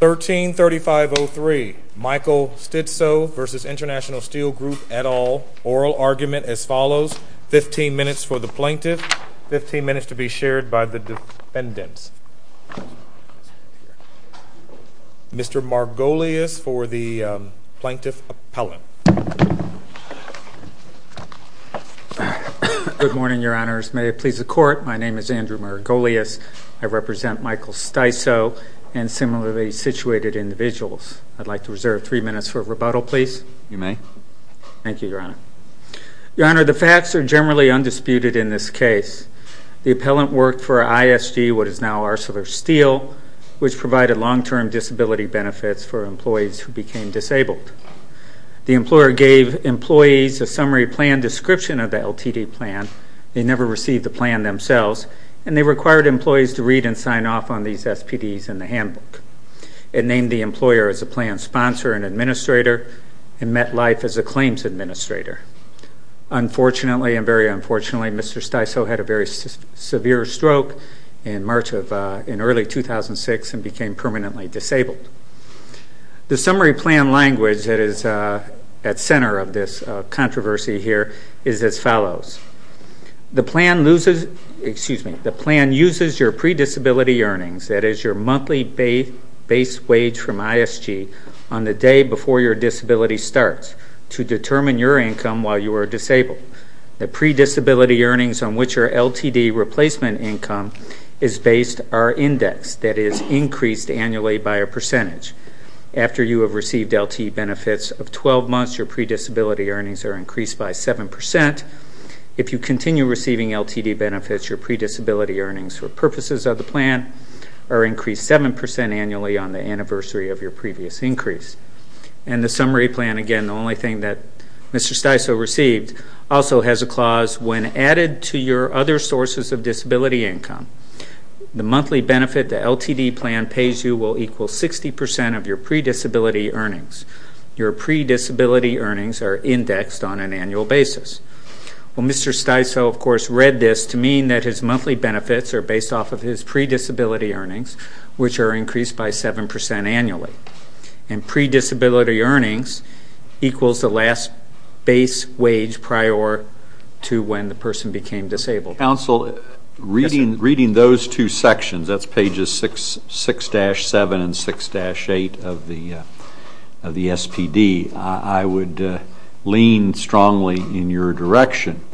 13-35-03 Michael Stiso v. Intl Steel Group et al. Oral argument as follows, 15 minutes for the plaintiff, 15 minutes to be shared by the defendants. Mr. Margolius for the plaintiff appellant. Good morning, Your Honors. May it please the court, my name is Andrew Margolius. I represent Michael Stiso and similarly situated individuals. I'd like to reserve three minutes for rebuttal, please. You may. Thank you, Your Honor. Your Honor, the facts are generally undisputed in this case. The appellant worked for ISD, what is now ArcelorSteel, which provided long-term disability benefits for employees who became disabled. The employer gave employees a summary plan description of the LTD plan. They never received the plan themselves and they required employees to read and sign off on these SPDs in the handbook. It named the employer as a plan sponsor and administrator and met life as a claims administrator. Unfortunately and very unfortunately, Mr. Stiso had a very severe stroke in early 2006 and became permanently disabled. The summary plan language that is at center of this controversy here is as follows. The plan uses your pre-disability earnings, that is your monthly base wage from ISG, on the day before your disability starts to determine your income while you are disabled. The pre-disability earnings on which your LTD replacement income is based are indexed, that is increased annually by a percentage. After you have received LTD benefits of 12 months, your pre-disability earnings are increased by 7%. If you continue receiving LTD benefits, your pre-disability earnings for purposes of the plan are increased 7% annually on the anniversary of your previous increase. And the summary plan, again, the only thing that Mr. Stiso received, also has a clause, when added to your other sources of disability income. The monthly benefit the LTD plan pays you will equal 60% of your pre-disability earnings. Your pre-disability earnings are indexed on an annual basis. Well, Mr. Stiso, of course, read this to mean that his monthly benefits are based off of his pre-disability earnings, which are increased by 7% annually. And pre-disability earnings equals the last base wage prior to when the person became disabled. Counsel, reading those two sections, that's pages 6-7 and 6-8 of the SPD, I would lean strongly in your direction.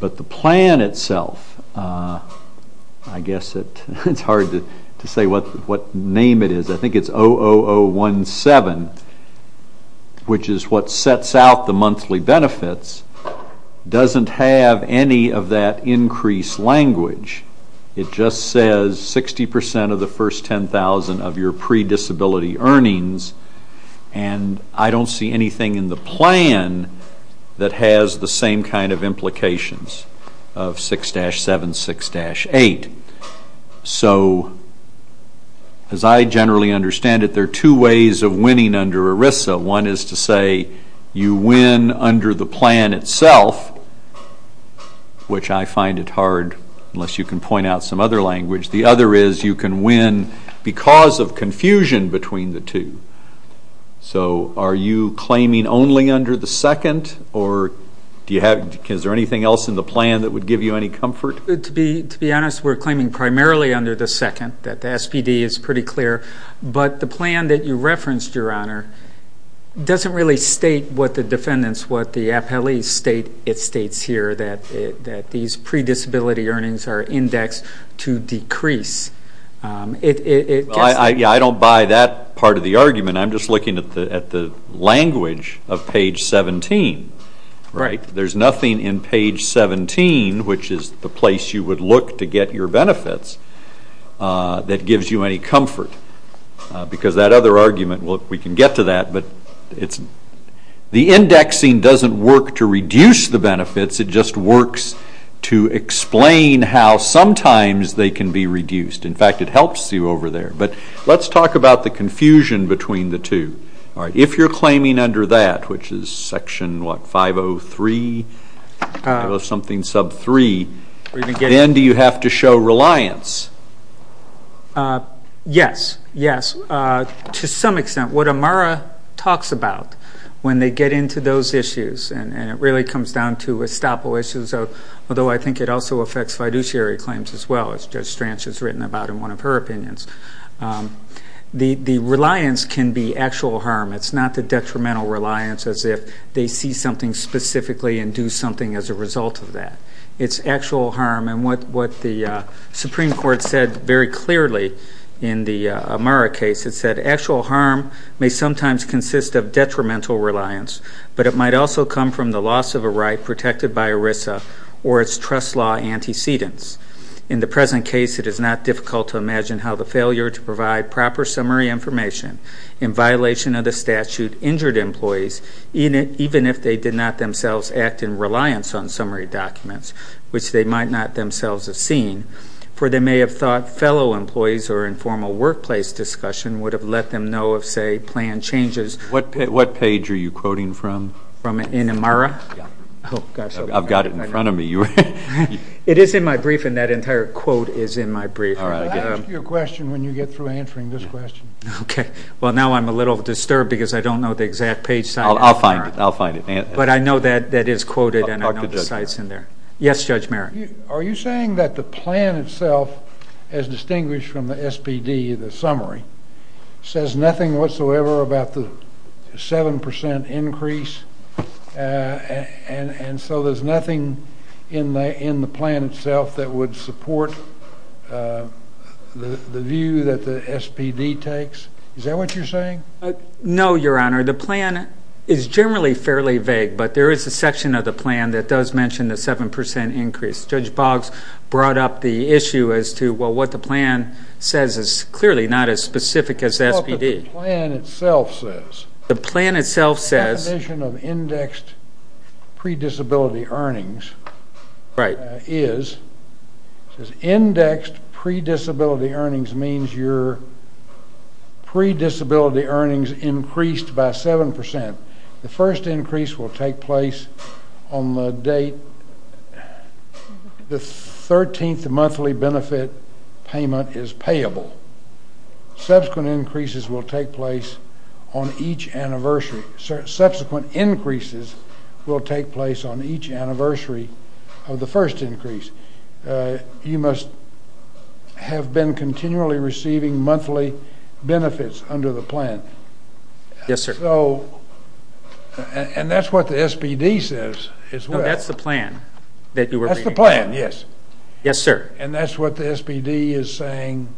But the plan itself, I guess it's hard to say what name it is. I think it's 00017, which is what sets out the monthly benefits, doesn't have any of that increased language. It just says 60% of the first 10,000 of your pre-disability earnings. And I don't see anything in the plan that has the same kind of implications of 6-7, 6-8. So as I generally understand it, there are two ways of winning under ERISA. One is to say you win under the plan itself, which I find it hard, unless you can point out some other language. The other is you can win because of confusion between the two. So are you claiming only under the second? Or is there anything else in the plan that would give you any comfort? To be honest, we're claiming primarily under the second. The SPD is pretty clear. But the plan that you referenced, Your Honor, doesn't really state what the defendants, what the appellees state. It states here that these pre-disability earnings are indexed to decrease. I don't buy that part of the argument. I am just looking at the language of page 17. There's nothing in page 17, which is the place you would look to get your benefits, that gives you any comfort. Because that other argument, we can get to that. The indexing doesn't work to reduce the benefits. It just works to explain how sometimes they can be reduced. In fact, it helps you over there. Let's talk about the confusion between the two. If you're claiming under that, which is section 503, then do you have to show reliance? Yes. Yes. To some extent. What Amara talks about when they get into those issues, and it really comes down to estoppel issues, although I think it also affects fiduciary claims as well, as Judge Stranch has written about in one of her opinions, the reliance can be actual harm. It's not the detrimental reliance as if they see something specifically and do something as a result of that. It's actual harm. What the Supreme Court said very clearly in the Amara case, it said actual harm may sometimes consist of detrimental reliance, but it might also come from the loss of a right protected by ERISA or its trust law antecedents. In the present case, it is not difficult to imagine how the failure to provide proper summary information in violation of the statute injured employees, even if they did not themselves act in reliance on summary documents, which they might not themselves have seen, for they may have thought fellow employees or informal workplace discussion would have let them know of, say, plan changes. What page are you quoting from? In Amara? I've got it in front of me. It is in my briefing. That entire quote is in my briefing. I'll ask you a question when you get through answering this question. Okay. Well, now I'm a little disturbed because I don't know the exact page size in Amara. I'll find it. I'll find it. But I know that that is quoted and I know the site's in there. Yes, Judge Merrick? Are you saying that the plan itself, as distinguished from the SPD, the summary, says nothing whatsoever about the 7% increase, and so there's nothing in the plan itself that would support the view that the SPD takes? Is that what you're saying? No, Your Honor. The plan is generally fairly vague, but there is a section of the plan that does mention the 7% increase. Judge Boggs brought up the issue as to, well, what the plan says is clearly not as specific as SPD. Well, but the plan itself says. The plan itself says. The definition of indexed predisability earnings is, it says, indexed predisability earnings means your predisability earnings increased by 7%. The first increase will take place on the date the 13th monthly benefit payment is payable. Subsequent increases will take place on each anniversary of the first increase. You must have been continually receiving monthly benefits under the plan. Yes, sir. And that's what the SPD says. No, that's the plan that you were reading. That's the plan, yes. Yes, sir. And that's what the SPD is saying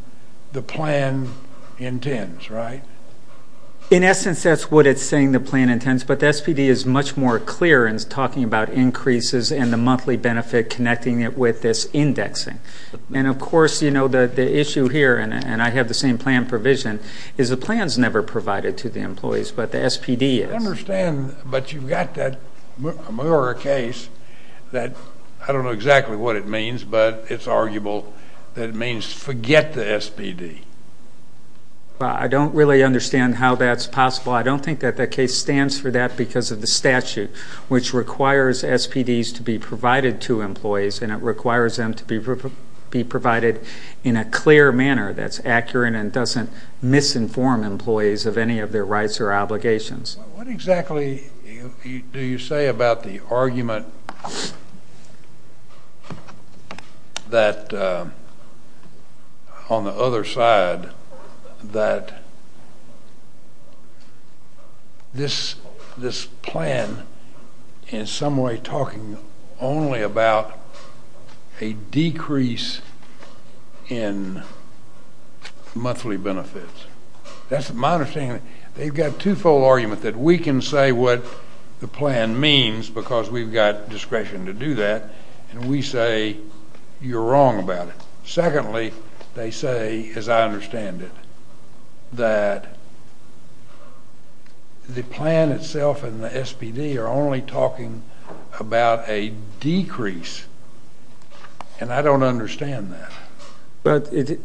the plan intends, right? In essence, that's what it's saying the plan intends, but the SPD is much more clear in talking about increases and the monthly benefit connecting it with this indexing. And of course, you know, the issue here, and I have the same plan provision, is the plan's never provided to the employees, but the SPD is. I understand, but you've got that Mueller case that, I don't know exactly what it means, but it's arguable that it means forget the SPD. I don't really understand how that's possible. I don't think that that case stands for that because of the statute, which requires SPDs to be provided to employees, and it requires them to be provided in a clear manner that's accurate and doesn't misinform employees of any of their rights or obligations. What exactly do you say about the argument that, on the other side, that this plan is in some way talking only about a decrease in monthly benefits? That's my understanding. They've got a two-fold argument that we can say what the plan means because we've got discretion to do that, and we say you're wrong about it. Secondly, they say, as I understand it, that the plan itself and the SPD are only talking about a decrease, and I don't understand that.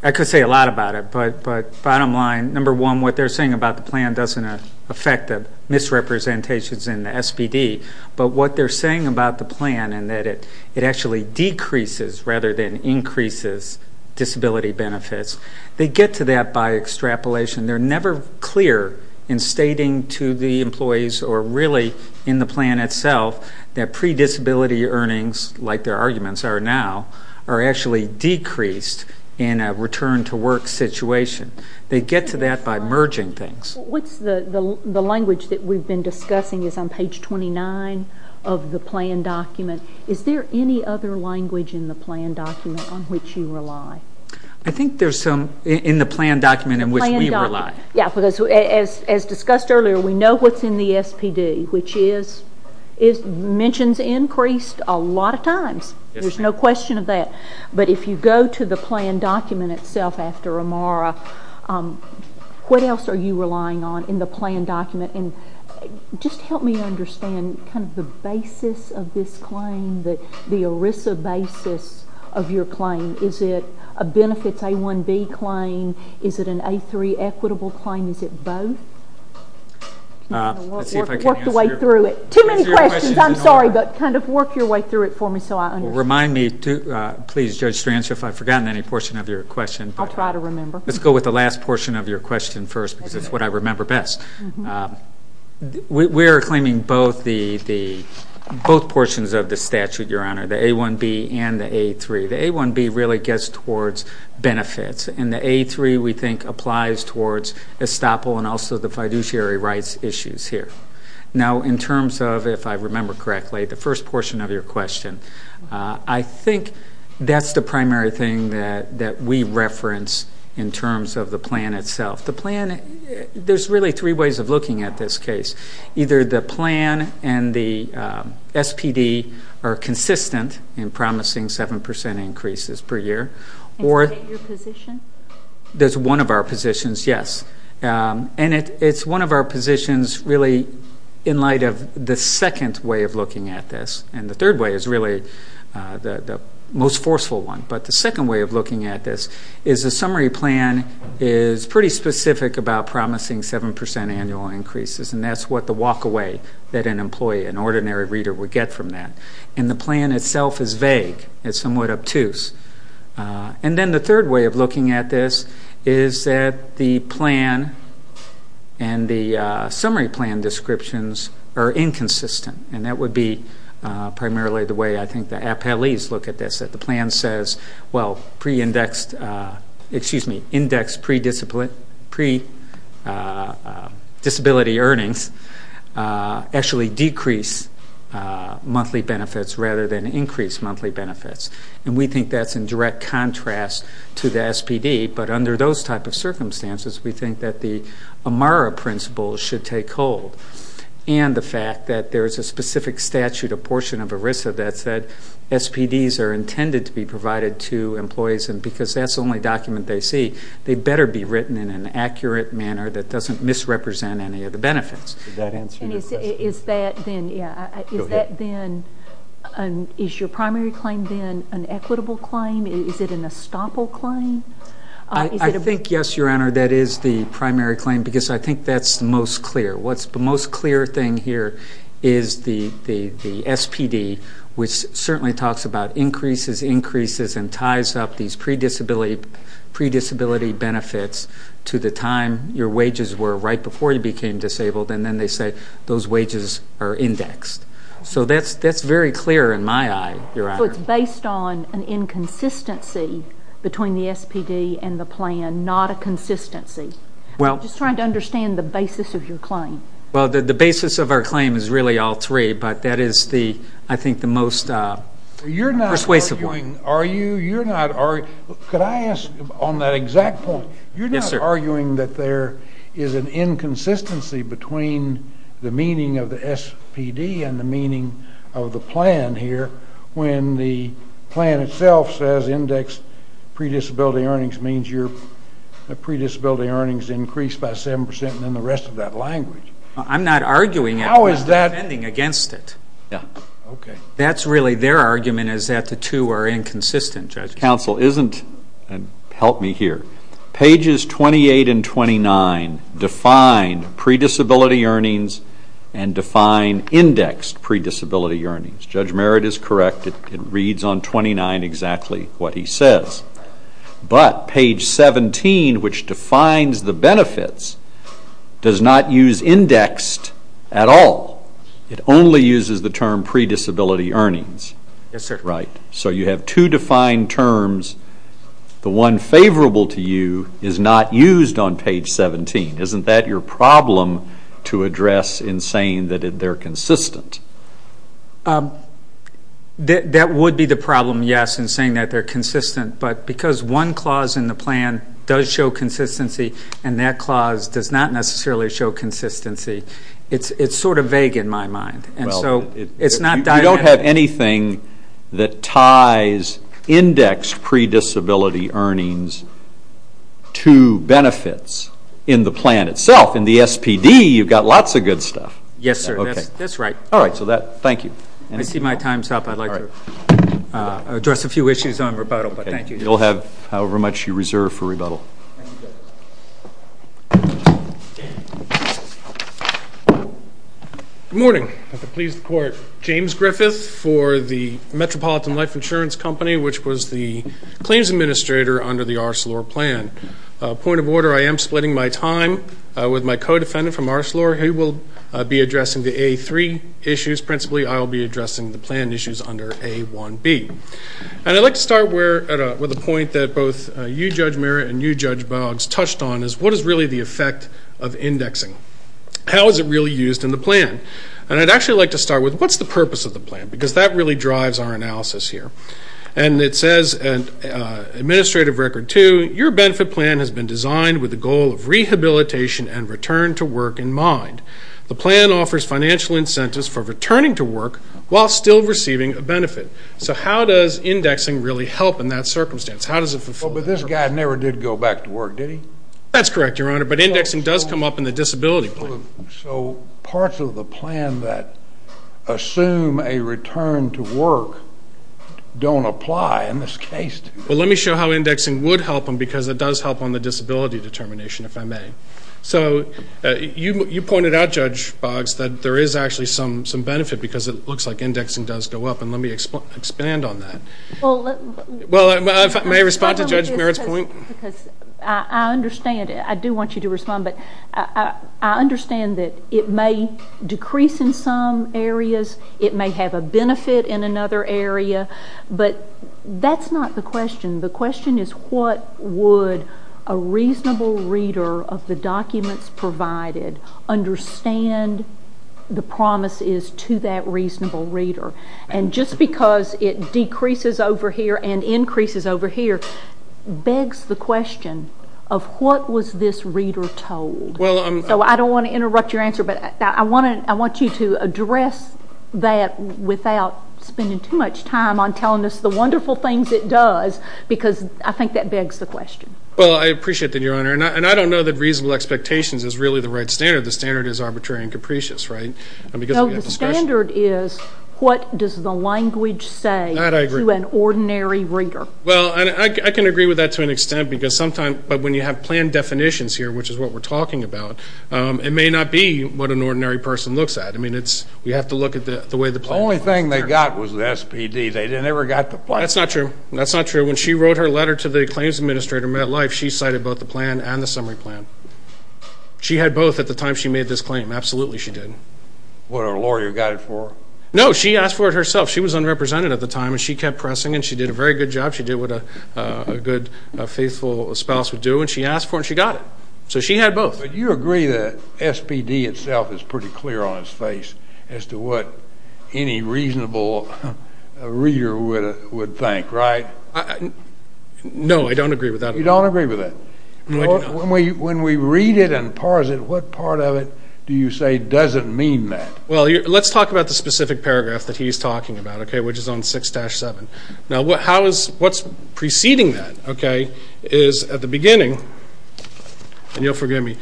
I could say a lot about it, but bottom line, number one, what they're saying about the effect of misrepresentations in the SPD, but what they're saying about the plan and that it actually decreases rather than increases disability benefits, they get to that by extrapolation. They're never clear in stating to the employees or really in the plan itself that pre-disability earnings, like their arguments are now, are actually decreased in a return-to-work situation. They get to that by merging things. What's the language that we've been discussing is on page 29 of the plan document. Is there any other language in the plan document on which you rely? I think there's some in the plan document in which we rely. Yeah, because as discussed earlier, we know what's in the SPD, which mentions increased a lot of times. There's no question of that. But if you go to the plan document itself after Amara, what else are you relying on in the plan document? Just help me understand the basis of this claim, the ERISA basis of your claim. Is it a benefits A-1B claim? Is it an A-3 equitable claim? Is it both? Let's see if I can answer your question. Work your way through it. Too many questions. I'm sorry, but kind of work your way through it for me so I understand. Remind me, please, Judge Strangio, if I've forgotten any portion of your question. I'll try to remember. Let's go with the last portion of your question first, because it's what I remember best. We're claiming both portions of the statute, Your Honor, the A-1B and the A-3. The A-1B really gets towards benefits, and the A-3, we think, applies towards estoppel and also the fiduciary rights issues here. In terms of, if I remember correctly, the first portion of your question, I think that's the primary thing that we reference in terms of the plan itself. The plan, there's really three ways of looking at this case. Either the plan and the SPD are consistent in promising seven percent increases per year, or- And state your position? There's one of our positions, yes. And it's one of our positions, really, in light of the second way of looking at this. And the third way is really the most forceful one. But the second way of looking at this is the summary plan is pretty specific about promising seven percent annual increases, and that's what the walk-away that an employee, an ordinary reader, would get from that. And the plan itself is vague. It's somewhat obtuse. And then the third way of looking at this is that the plan and the summary plan descriptions are inconsistent. And that would be primarily the way I think the appellees look at this, that the plan says, well, pre-indexed, excuse me, indexed pre-discipline, pre-disability earnings actually decrease monthly benefits rather than increase monthly benefits. And we think that's in direct contrast to the SPD. But under those type of circumstances, we think that the AMARA principle should take hold. And the fact that there's a specific statute, a portion of ERISA, that said SPDs are intended to be provided to employees and because that's the only document they see, they'd better be written in an accurate manner that doesn't misrepresent any of the benefits. And is that then, is your primary claim then an equitable claim? Is it an estoppel claim? I think, yes, Your Honor, that is the primary claim because I think that's the most clear. What's the most clear thing here is the SPD, which certainly talks about increases, increases and ties up these pre-disability benefits to the time your wages were right before you became disabled. And then they say those wages are indexed. So that's very clear in my eye, Your Honor. So it's based on an inconsistency between the SPD and the plan, not a consistency. I'm just trying to understand the basis of your claim. Well, the basis of our claim is really all three, but that is the, I think, the most persuasive. You're not arguing, are you? You're not, could I ask on that exact point, you're not arguing that there is an inconsistency between the meaning of the SPD and the meaning of the plan here when the plan itself says indexed pre-disability earnings means your pre-disability earnings increase by 7 percent and then the rest of that language. I'm not arguing it. How is that? I'm not defending against it. Yeah, okay. That's really their argument is that the two are inconsistent, Judge. Judge Merritt's counsel isn't, and help me here, pages 28 and 29 define pre-disability earnings and define indexed pre-disability earnings. Judge Merritt is correct. It reads on 29 exactly what he says. But page 17, which defines the benefits, does not use indexed at all. It only uses the term pre-disability earnings. Yes, sir. So you have two defined terms. The one favorable to you is not used on page 17. Isn't that your problem to address in saying that they're consistent? That would be the problem, yes, in saying that they're consistent. But because one clause in the plan does show consistency and that clause does not necessarily show consistency, it's sort of vague in my mind. You don't have anything that ties indexed pre-disability earnings to benefits in the plan itself. In the SPD, you've got lots of good stuff. Yes, sir. That's right. All right. So thank you. I see my time's up. I'd like to address a few issues on rebuttal, but thank you. You'll have however much you reserve for rebuttal. Good morning. At the pleas of the court, James Griffith for the Metropolitan Life Insurance Company, which was the claims administrator under the Arcelor plan. Point of order. I am splitting my time with my co-defendant from Arcelor. He will be addressing the A3 issues. Principally, I will be addressing the plan issues under A1B. I'd like to start with a point that both you, Judge Merritt, and you, Judge Boggs, touched on is what is really the effect of indexing? How is it really used in the plan? I'd actually like to start with what's the purpose of the plan because that really drives our analysis here. It says in Administrative Record 2, your benefit plan has been designed with the goal of rehabilitation and return to work in mind. The plan offers financial incentives for returning to work while still receiving a benefit. So how does indexing really help in that circumstance? How does it fulfill that? But this guy never did go back to work, did he? That's correct, Your Honor, but indexing does come up in the disability plan. So parts of the plan that assume a return to work don't apply in this case. Well, let me show how indexing would help them because it does help on the disability determination, if I may. So you pointed out, Judge Boggs, that there is actually some benefit because it looks like indexing does go up, and let me expand on that. Well, let me respond to Judge Merritt's point. I understand. I do want you to respond, but I understand that it may decrease in some areas. It may have a benefit in another area, but that's not the question. The question is what would a reasonable reader of the documents provided understand the promises to that reasonable reader? And just because it decreases over here and increases over here begs the question of what was this reader told? Well, I'm... So I don't want to interrupt your answer, but I want you to address that without spending too much time on telling us the wonderful things it does, because I think that begs the question. Well, I appreciate that, Your Honor, and I don't know that reasonable expectations is really the right standard. The standard is arbitrary and capricious, right? No, the standard is what does the language say to an ordinary reader? Well, and I can agree with that to an extent because sometimes, but when you have plan definitions here, which is what we're talking about, it may not be what an ordinary person looks at. I mean, it's, we have to look at the way the plan... The only thing they got was the SPD. They never got the plan. That's not true. That's not true. When she wrote her letter to the claims administrator at MetLife, she cited both the plan and the summary plan. She had both at the time she made this claim. Absolutely, she did. What, a lawyer got it for her? No, she asked for it herself. She was unrepresented at the time, and she kept pressing, and she did a very good job. She did what a good, faithful spouse would do, and she asked for it, and she got it. So she had both. But you agree that SPD itself is pretty clear on its face as to what any reasonable reader would think, right? No, I don't agree with that at all. You don't agree with that. When we read it and parse it, what part of it do you say doesn't mean that? Well, let's talk about the specific paragraph that he's talking about, okay, which is on You have to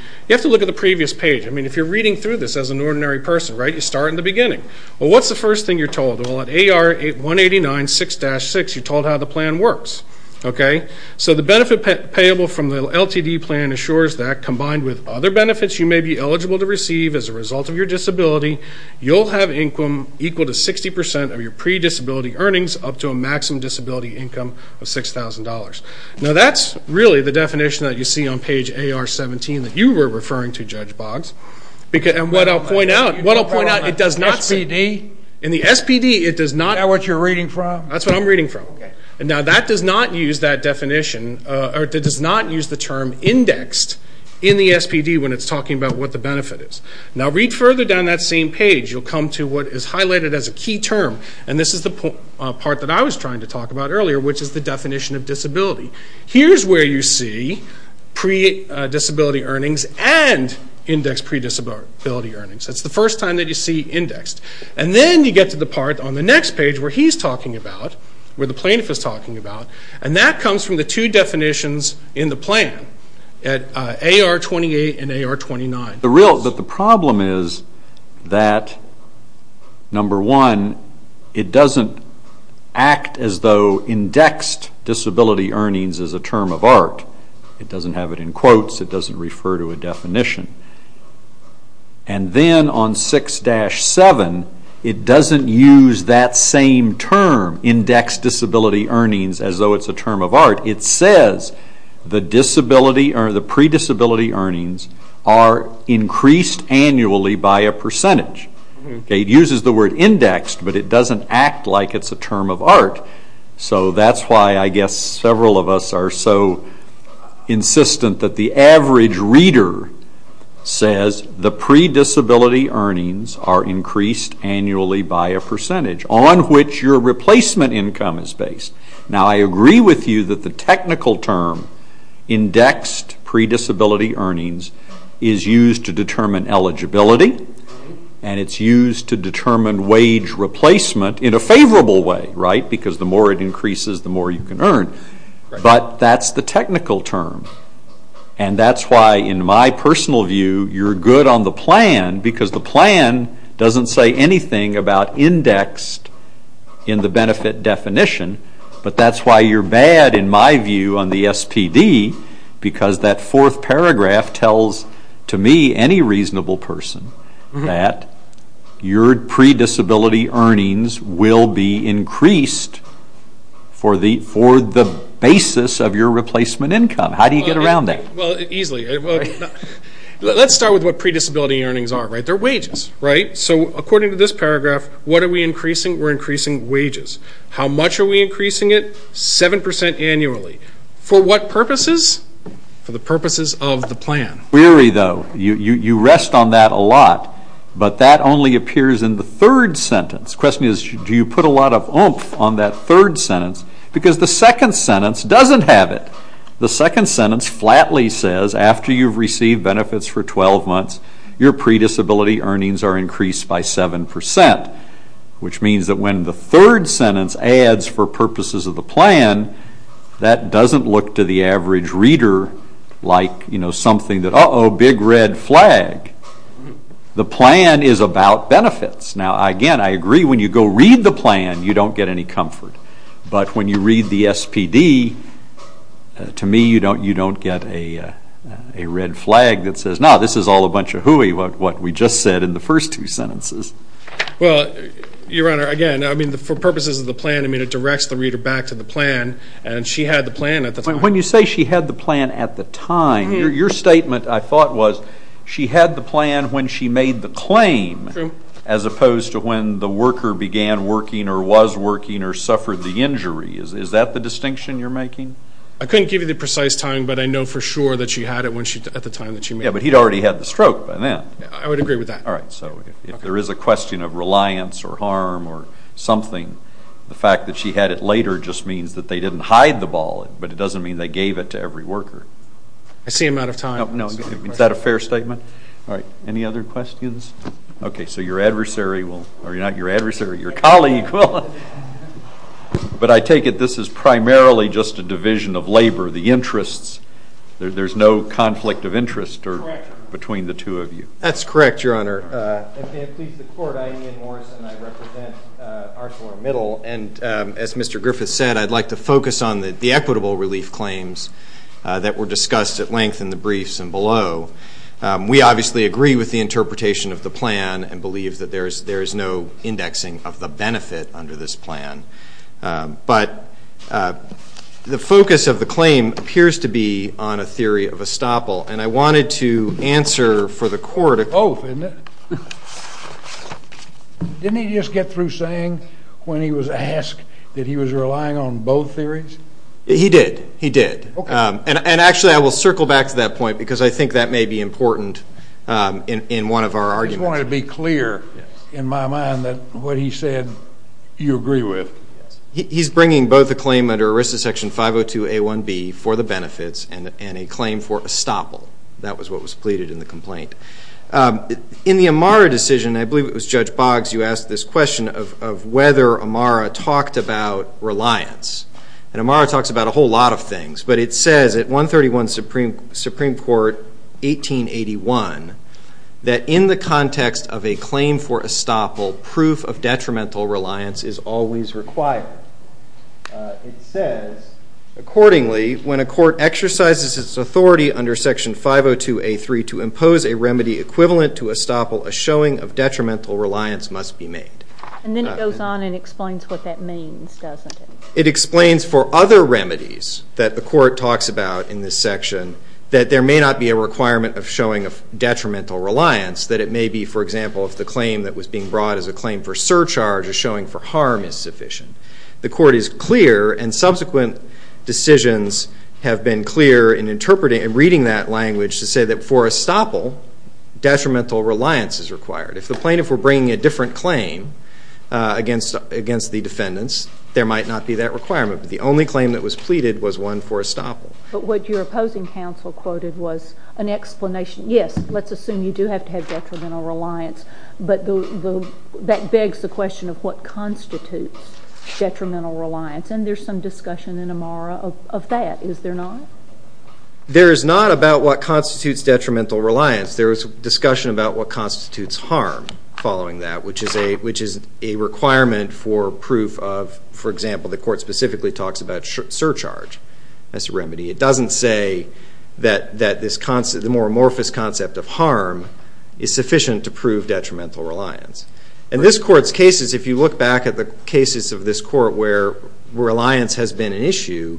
look at the previous page. I mean, if you're reading through this as an ordinary person, right, you start in the beginning. Well, what's the first thing you're told? Well, at AR 189 6-6, you're told how the plan works, okay? So the benefit payable from the LTD plan assures that, combined with other benefits you may be eligible to receive as a result of your disability, you'll have income equal to 60% of your pre-disability earnings up to a maximum disability income of $6,000. Now, that's really the definition that you see on page AR 17 that you were referring to, Judge Boggs. And what I'll point out, what I'll point out, it does not say... SPD? In the SPD, it does not... Is that what you're reading from? That's what I'm reading from. Okay. Now, that does not use that definition, or it does not use the term indexed in the SPD when it's talking about what the benefit is. Now, read further down that same page. You'll come to what is highlighted as a key term, and this is the part that I was trying to Here's where you see pre-disability earnings and indexed pre-disability earnings. That's the first time that you see indexed. And then you get to the part on the next page where he's talking about, where the plaintiff is talking about, and that comes from the two definitions in the plan at AR 28 and AR 29. But the problem is that, number one, it doesn't act as though indexed disability earnings is a term of art. It doesn't have it in quotes. It doesn't refer to a definition. And then on 6-7, it doesn't use that same term, indexed disability earnings, as though it's a term of art. It says the disability, or the pre-disability earnings, are increased annually by a percentage. It uses the word indexed, but it doesn't act like it's a term of art. So that's why I guess several of us are so insistent that the average reader says the pre-disability earnings are increased annually by a percentage, on which your replacement income is based. Now, I agree with you that the technical term, indexed pre-disability earnings, is used to determine eligibility, and it's used to determine wage replacement in a favorable way, right? Because the more it increases, the more you can earn. But that's the technical term. And that's why, in my personal view, you're good on the plan, because the plan doesn't say anything about indexed in the benefit definition. But that's why you're bad, in my view, on the SPD, because that fourth paragraph tells, to me, any reasonable person, that your pre-disability earnings will be increased for the basis of your replacement income. How do you get around that? Well, easily. Let's start with what pre-disability earnings are, right? They're wages, right? So, according to this paragraph, what are we increasing? We're increasing wages. How much are we increasing it? Seven percent annually. For what purposes? For the purposes of the plan. Weary, though. You rest on that a lot. But that only appears in the third sentence. The question is, do you put a lot of oomph on that third sentence? Because the second sentence doesn't have it. The second sentence flatly says, after you've received benefits for 12 weeks, by seven percent, which means that when the third sentence adds, for purposes of the plan, that doesn't look to the average reader like, you know, something that, uh-oh, big red flag. The plan is about benefits. Now, again, I agree, when you go read the plan, you don't get any comfort. But when you read the SPD, to me, you don't get a red flag that says, no, this is all a bunch of nonsense. Well, Your Honor, again, I mean, for purposes of the plan, I mean, it directs the reader back to the plan. And she had the plan at the time. When you say she had the plan at the time, your statement, I thought, was she had the plan when she made the claim, as opposed to when the worker began working or was working or suffered the injury. Is that the distinction you're making? I couldn't give you the precise time, but I know for sure that she had it at the time that she made the claim. Yeah, but he'd already had the stroke by then. I would agree with that. All right, so if there is a question of reliance or harm or something, the fact that she had it later just means that they didn't hide the ball. But it doesn't mean they gave it to every worker. I see him out of time. Is that a fair statement? All right, any other questions? OK, so your adversary will, or not your adversary, your colleague will. But I take it this is primarily just a division of labor, the interests. There's no conflict of interest between the two of you. That's correct, Your Honor. And please, the Court, I, Ian Morrison, I represent ArcelorMittal. And as Mr. Griffith said, I'd like to focus on the equitable relief claims that were discussed at length in the briefs and below. We obviously agree with the interpretation of the plan and believe that there is no indexing of the benefit under this plan. But the focus of the claim appears to be on a theory of estoppel. And I wanted to answer for the Court a question. Both, isn't it? Didn't he just get through saying when he was asked that he was relying on both theories? He did. He did. And actually, I will circle back to that point because I think that may be important in one of our arguments. I just wanted to be clear in my mind that what he said you agree with. He's bringing both the claim under ERISA Section 502A1B for the benefits and a claim for estoppel. That was what was pleaded in the complaint. In the Amara decision, I believe it was Judge Boggs you asked this question of whether Amara talked about reliance. And Amara talks about a whole lot of things. But it says at 131 Supreme Court, 1881, that in the context of requirement, it says, accordingly, when a court exercises its authority under Section 502A3 to impose a remedy equivalent to estoppel, a showing of detrimental reliance must be made. And then it goes on and explains what that means, doesn't it? It explains for other remedies that the Court talks about in this section that there may not be a requirement of showing of detrimental reliance, that it may be, for example, if a claim that was being brought as a claim for surcharge or showing for harm is sufficient. The Court is clear, and subsequent decisions have been clear in interpreting and reading that language to say that for estoppel, detrimental reliance is required. If the plaintiff were bringing a different claim against the defendants, there might not be that requirement. But the only claim that was pleaded was one for estoppel. But what your opposing counsel quoted was an explanation. Yes, let's assume you do have detrimental reliance. But that begs the question of what constitutes detrimental reliance. And there's some discussion in Amara of that, is there not? There is not about what constitutes detrimental reliance. There is discussion about what constitutes harm following that, which is a requirement for proof of, for example, the Court specifically talks about surcharge as a remedy. It doesn't say that the more amorphous concept of harm is sufficient to prove detrimental reliance. In this Court's cases, if you look back at the cases of this Court where reliance has been an issue,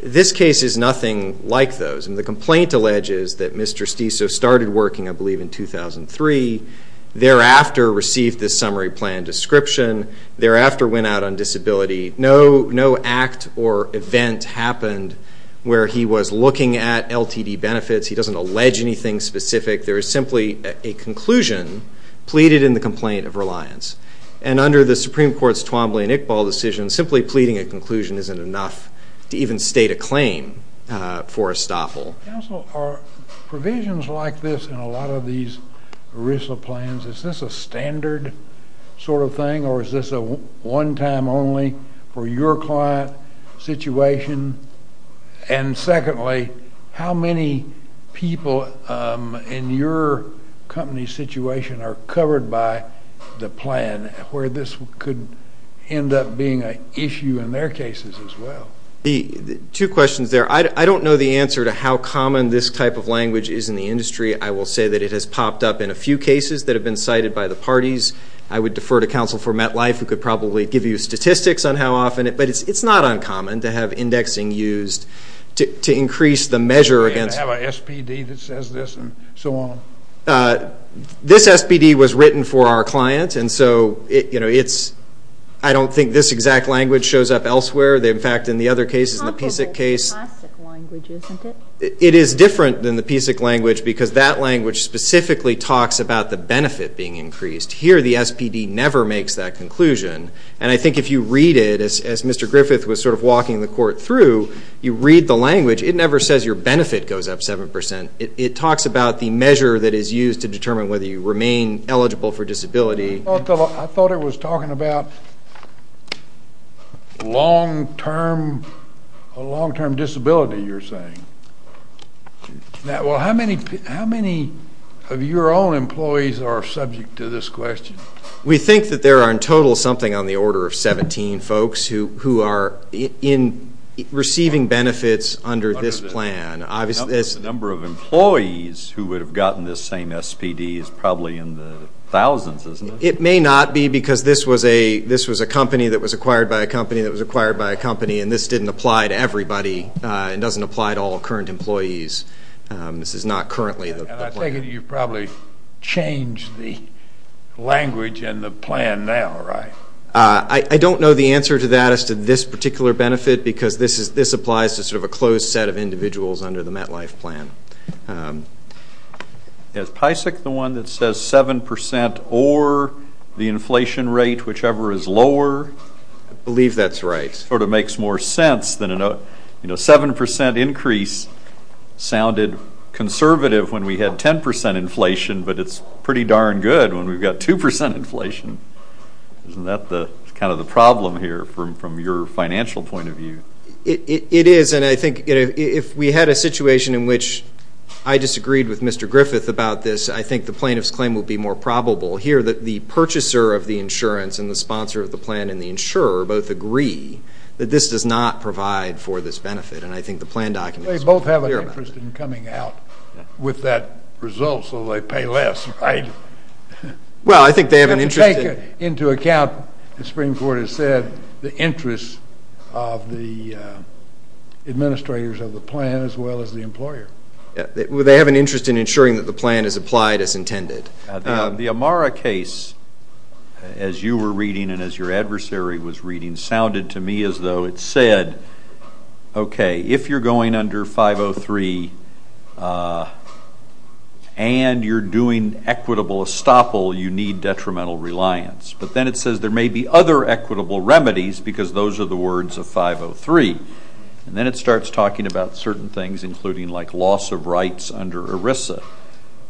this case is nothing like those. And the complaint alleges that Mr. Steso started working, I believe, in 2003, thereafter received the summary plan description, thereafter went out on disability. No act or event happened where he was looking at LTD benefits. He doesn't allege anything specific. There is simply a conclusion pleaded in the complaint of reliance. And under the Supreme Court's Twombly and Iqbal decision, simply pleading a conclusion isn't enough to even state a claim for estoppel. Counsel, are provisions like this in a lot of these ERISA plans, is this a standard sort of thing, or is this a one-time only for your client situation? And secondly, how many people in your company's situation are covered by the plan where this could end up being an issue in their cases as well? Two questions there. I don't know the answer to how common this type of language is in the industry. I will say that it has popped up in a few cases that have been cited by the parties. I would defer to counsel for MetLife, who could probably give you statistics on how often it, but it's not uncommon to have indexing used to increase the measure against... And to have an SPD that says this and so on? This SPD was written for our client, and so it's, I don't think this exact language shows up elsewhere. In fact, in the other cases, in the PSIC case... It's comparable to the classic language, isn't it? It is different than the PSIC language because that language specifically talks about the increased. Here, the SPD never makes that conclusion. And I think if you read it, as Mr. Griffith was sort of walking the court through, you read the language, it never says your benefit goes up 7%. It talks about the measure that is used to determine whether you remain eligible for disability. I thought it was talking about long-term disability, you're saying. Well, how many of your own We think that there are in total something on the order of 17 folks who are receiving benefits under this plan. The number of employees who would have gotten this same SPD is probably in the thousands, isn't it? It may not be because this was a company that was acquired by a company that was acquired by a company, and this didn't apply to everybody. It doesn't apply to all current employees. This is not currently the plan. And I take it you've probably changed the language and the plan now, right? I don't know the answer to that as to this particular benefit because this applies to sort of a closed set of individuals under the MetLife plan. Is PSIC the one that says 7% or the inflation rate, whichever is lower? I believe that's right. It sort of makes more sense than a 7% increase sounded conservative when we had 10% inflation, but it's pretty darn good when we've got 2% inflation. Isn't that kind of the problem here from your financial point of view? It is, and I think if we had a situation in which I disagreed with Mr. Griffith about this, I think the plaintiff's claim would be more probable. Here, the purchaser of the insurance and the sponsor of the plan and the insurer both agree that this does not provide for this benefit, and I think the plan document is clear about that. They both have an interest in coming out with that result so they pay less, right? Well, I think they have an interest in... You have to take into account, as Supreme Court has said, the interests of the administrators of the plan as well as the employer. Well, they have an interest in ensuring that the plan is applied as intended. The Amara case, as you were reading and as your adversary was reading, sounded to me as though it said, okay, if you're going under 503 and you're doing equitable estoppel, you need detrimental reliance, but then it says there may be other equitable remedies because those are the words of 503, and then it starts talking about certain things including like loss of rights under ERISA.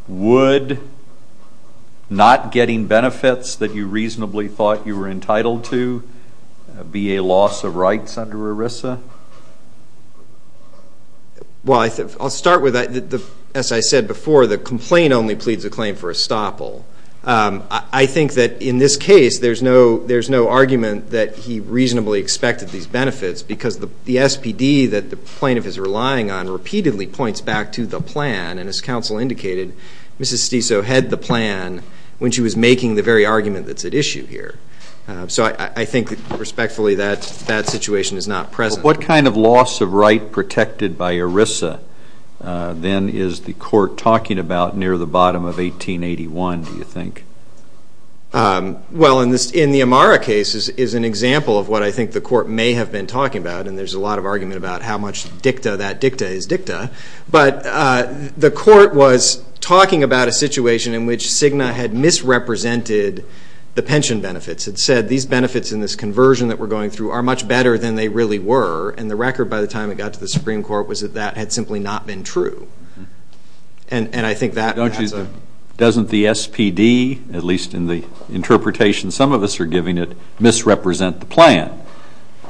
Would not getting benefits that you reasonably thought you were entitled to be a loss of rights under ERISA? Well, I'll start with, as I said before, the complaint only pleads the claim for estoppel. I think that in this case, there's no argument that he reasonably expected these benefits because the SPD that the plaintiff is relying on repeatedly points back to the plan and as counsel indicated, Mrs. Stiso had the plan when she was making the very argument that's at issue here. So I think respectfully that that situation is not present. What kind of loss of right protected by ERISA then is the court talking about near the bottom of 1881, do you think? Well, in the Amara case is an example of what I think the court may have been talking about and there's a lot of argument about how much dicta that dicta is dicta. But the court was talking about a situation in which CIGNA had misrepresented the pension benefits. It said these benefits in this conversion that we're going through are much better than they really were, and the record by the time it got to the Supreme Court was that that had simply not been true. And I think that... Doesn't the SPD, at least in the interpretation some of us are giving it, misrepresent the plan?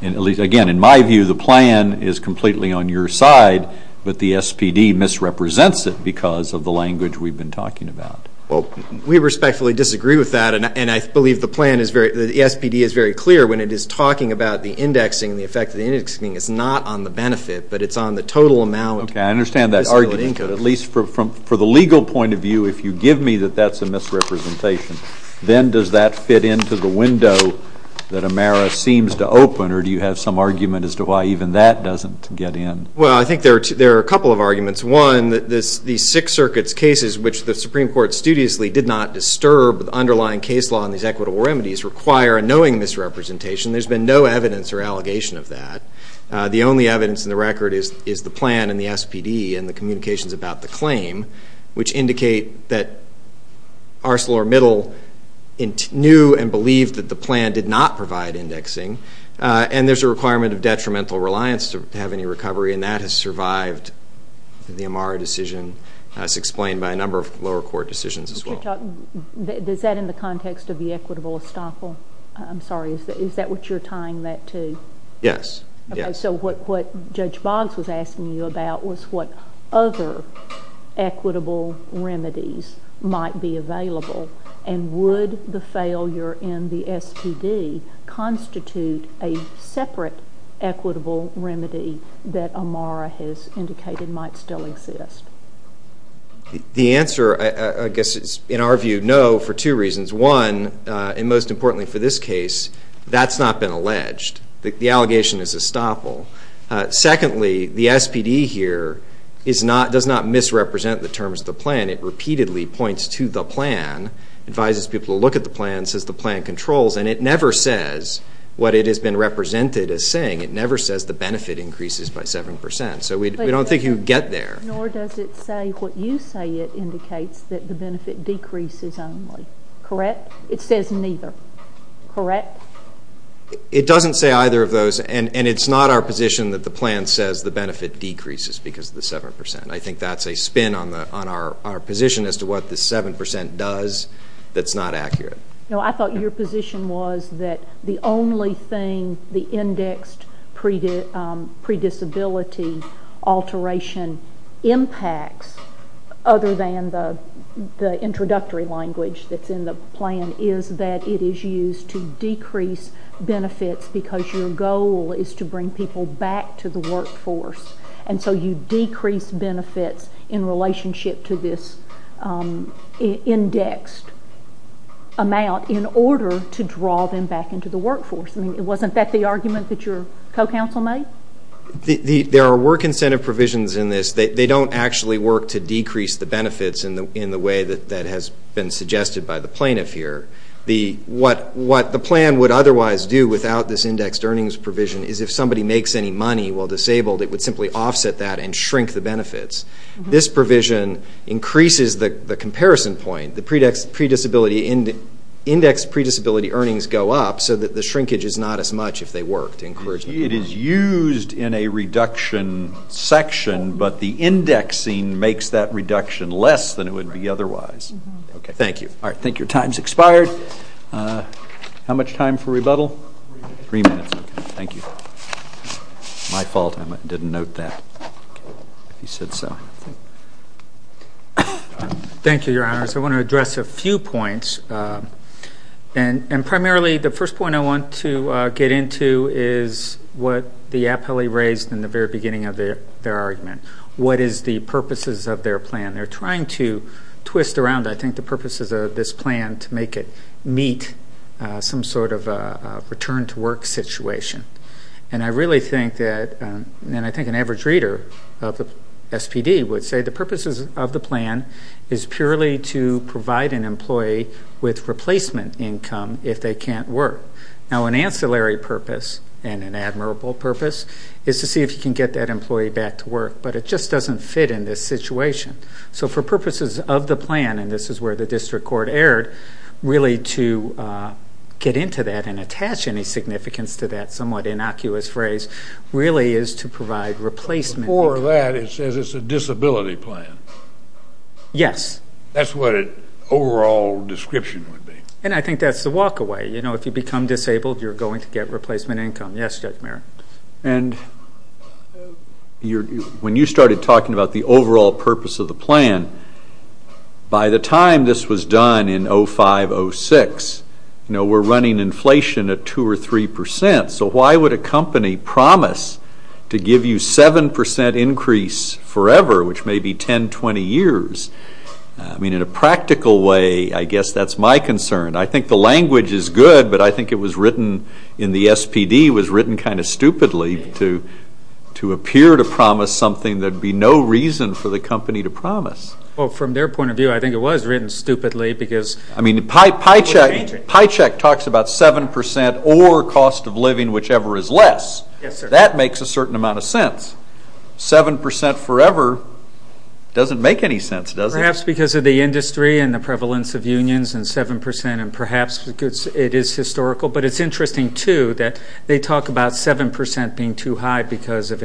Again, in my view, the plan is completely on your side, but the SPD misrepresents it because of the language we've been talking about. Well, we respectfully disagree with that and I believe the plan is very... The SPD is very clear when it is talking about the indexing, the effect of the indexing is not on the benefit, but it's on the total amount... Okay, I understand that argument, but at least for the legal point of view, if you give me that that's a misrepresentation, then does that fit into the window that Amara seems to open or do you have some argument as to why even that doesn't get in? Well, I think there are a couple of arguments. One, the Sixth Circuit's cases, which the Supreme Court studiously did not disturb the underlying case law and these equitable remedies, require a knowing misrepresentation. There's been no evidence or allegation of that. The only evidence in the record is the plan and the SPD and the communications about the claim, which indicate that ArcelorMittal knew and believed that the plan did not provide indexing and there's a requirement of detrimental reliance to have any recovery and that has survived the Amara decision as explained by a number of lower court decisions as well. Is that in the context of the equitable estoppel? I'm sorry, is that what you're tying that to? Yes, yes. So, what Judge Boggs was asking you about was what other equitable remedies might be a separate equitable remedy that Amara has indicated might still exist? The answer, I guess, is in our view, no, for two reasons. One, and most importantly for this case, that's not been alleged. The allegation is estoppel. Secondly, the SPD here does not misrepresent the terms of the plan. It repeatedly points to the plan, advises people to look at the plan, says the plan controls, and it never says what it has been represented as saying. It never says the benefit increases by 7%, so we don't think you'd get there. Nor does it say what you say it indicates, that the benefit decreases only, correct? It says neither, correct? It doesn't say either of those, and it's not our position that the plan says the benefit decreases because of the 7%. I think that's a spin on our position as to what the 7% does that's not accurate. No, I thought your position was that the only thing the indexed predisability alteration impacts, other than the introductory language that's in the plan, is that it is used to decrease benefits because your goal is to bring people back to the workforce. So you decrease benefits in relationship to this indexed amount in order to draw them back into the workforce. Wasn't that the argument that your co-counsel made? There are work incentive provisions in this. They don't actually work to decrease the benefits in the way that has been suggested by the plaintiff here. What the plan would otherwise do without this indexed earnings provision is if somebody makes any money while disabled, it would simply offset that and shrink the benefits. This provision increases the comparison point. The indexed predisability earnings go up so that the shrinkage is not as much if they work to encourage them to work. It is used in a reduction section, but the indexing makes that reduction less than it would be otherwise. Thank you. All right. Thank you. Time's expired. How much time for rebuttal? Three minutes. Thank you. My fault. I didn't note that. If you said so. Thank you, Your Honors. I want to address a few points. And primarily, the first point I want to get into is what the appellee raised in the very beginning of their argument. What is the purposes of their plan? They're trying to twist around, I think, the purposes of this plan to make it meet some sort of return to work situation. And I really think that, and I think an average reader of the SPD would say the purposes of the plan is purely to provide an employee with replacement income if they can't work. Now, an ancillary purpose and an admirable purpose is to see if you can get that employee back to work. But it just doesn't fit in this situation. So for purposes of the plan, and this is where the district court erred, really to get into that and attach any significance to that somewhat innocuous phrase really is to provide replacement. Before that, it says it's a disability plan. Yes. That's what an overall description would be. And I think that's the walk away. You know, if you become disabled, you're going to get replacement income. Yes, Judge Mayer. And when you started talking about the overall purpose of the plan, by the time this was done in 05, 06, you know, we're running inflation at 2 or 3 percent. So why would a company promise to give you 7 percent increase forever, which may be 10, 20 years? I mean, in a practical way, I guess that's my concern. I think the language is good, but I think it was written in the SPD was written kind of stupidly to appear to promise something that would be no reason for the company to promise. Well, from their point of view, I think it was written stupidly because... I mean, Pycheck talks about 7 percent or cost of living, whichever is less. Yes, sir. That makes a certain amount of sense. 7 percent forever doesn't make any sense, does it? Perhaps because of the industry and the prevalence of unions and 7 percent, and perhaps it is historical. But it's interesting, too, that they talk about 7 percent being too high because of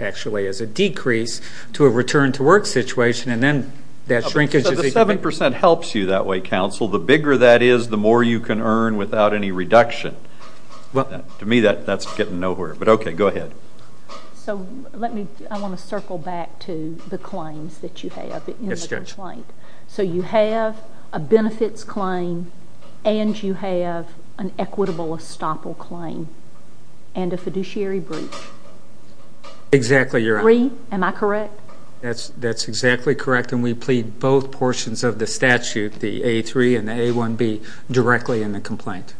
actually as a decrease to a return to work situation, and then that shrinkage is even bigger. So the 7 percent helps you that way, counsel. The bigger that is, the more you can earn without any reduction. To me, that's getting nowhere. But okay, go ahead. So let me, I want to circle back to the claims that you have in the complaint. So you have a benefits claim and you have an equitable estoppel claim and a fiduciary breach. Exactly, Your Honor. Three, am I correct? That's exactly correct, and we plead both portions of the statute, the A3 and the A1B, directly in the complaint.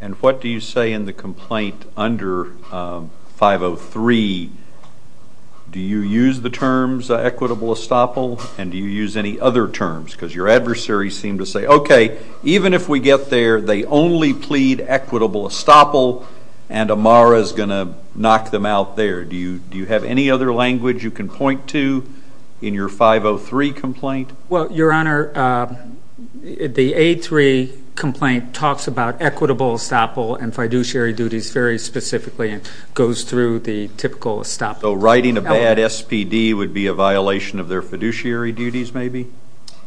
And what do you say in the complaint under 503? Do you use the terms equitable estoppel, and do you use any other terms? Because your adversaries seem to say, okay, even if we get there, they only plead equitable estoppel, and Amara is going to knock them out there. Do you have any other language you can point to in your 503 complaint? Well, Your Honor, the A3 complaint talks about equitable estoppel and fiduciary duties very specifically and goes through the typical estoppel. So writing a bad SPD would be a violation of their fiduciary duties, maybe?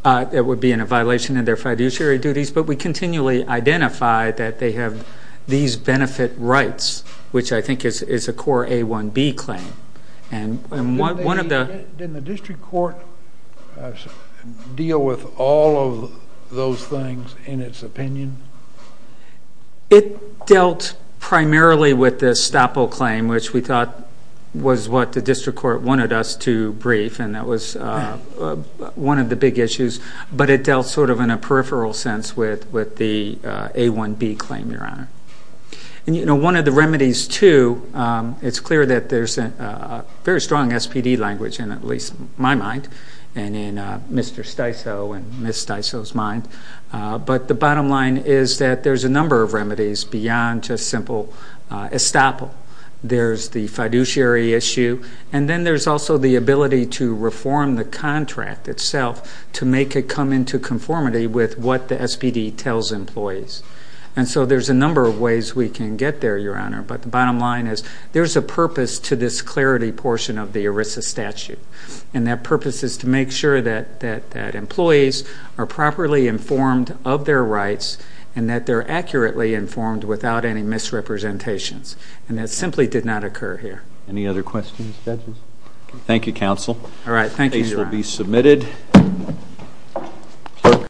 It would be a violation of their fiduciary duties, but we continually identify that they have these benefit rights, which I think is a core A1B claim. Didn't the district court deal with all of those things in its opinion? It dealt primarily with the estoppel claim, which we thought was what the district court wanted us to brief, and that was one of the big issues, but it dealt sort of in a peripheral sense with the A1B claim, Your Honor. And, you know, one of the remedies, too, it's clear that there's a very strong SPD language in at least my mind and in Mr. Sticeau and Ms. Sticeau's mind, but the bottom line is that there's a number of remedies beyond just simple estoppel. There's the fiduciary issue, and then there's also the ability to reform the contract itself to make it come into conformity with what the SPD tells employees. And so there's a number of ways we can get there, Your Honor, but the bottom line is there's a purpose to this clarity portion of the ERISA statute, and that purpose is to make sure that employees are properly informed of their rights and that they're accurately informed without any misrepresentations, and that simply did not occur here. Any other questions, judges? Thank you, counsel. All right, thank you, Your Honor. Case will be submitted. Thank you.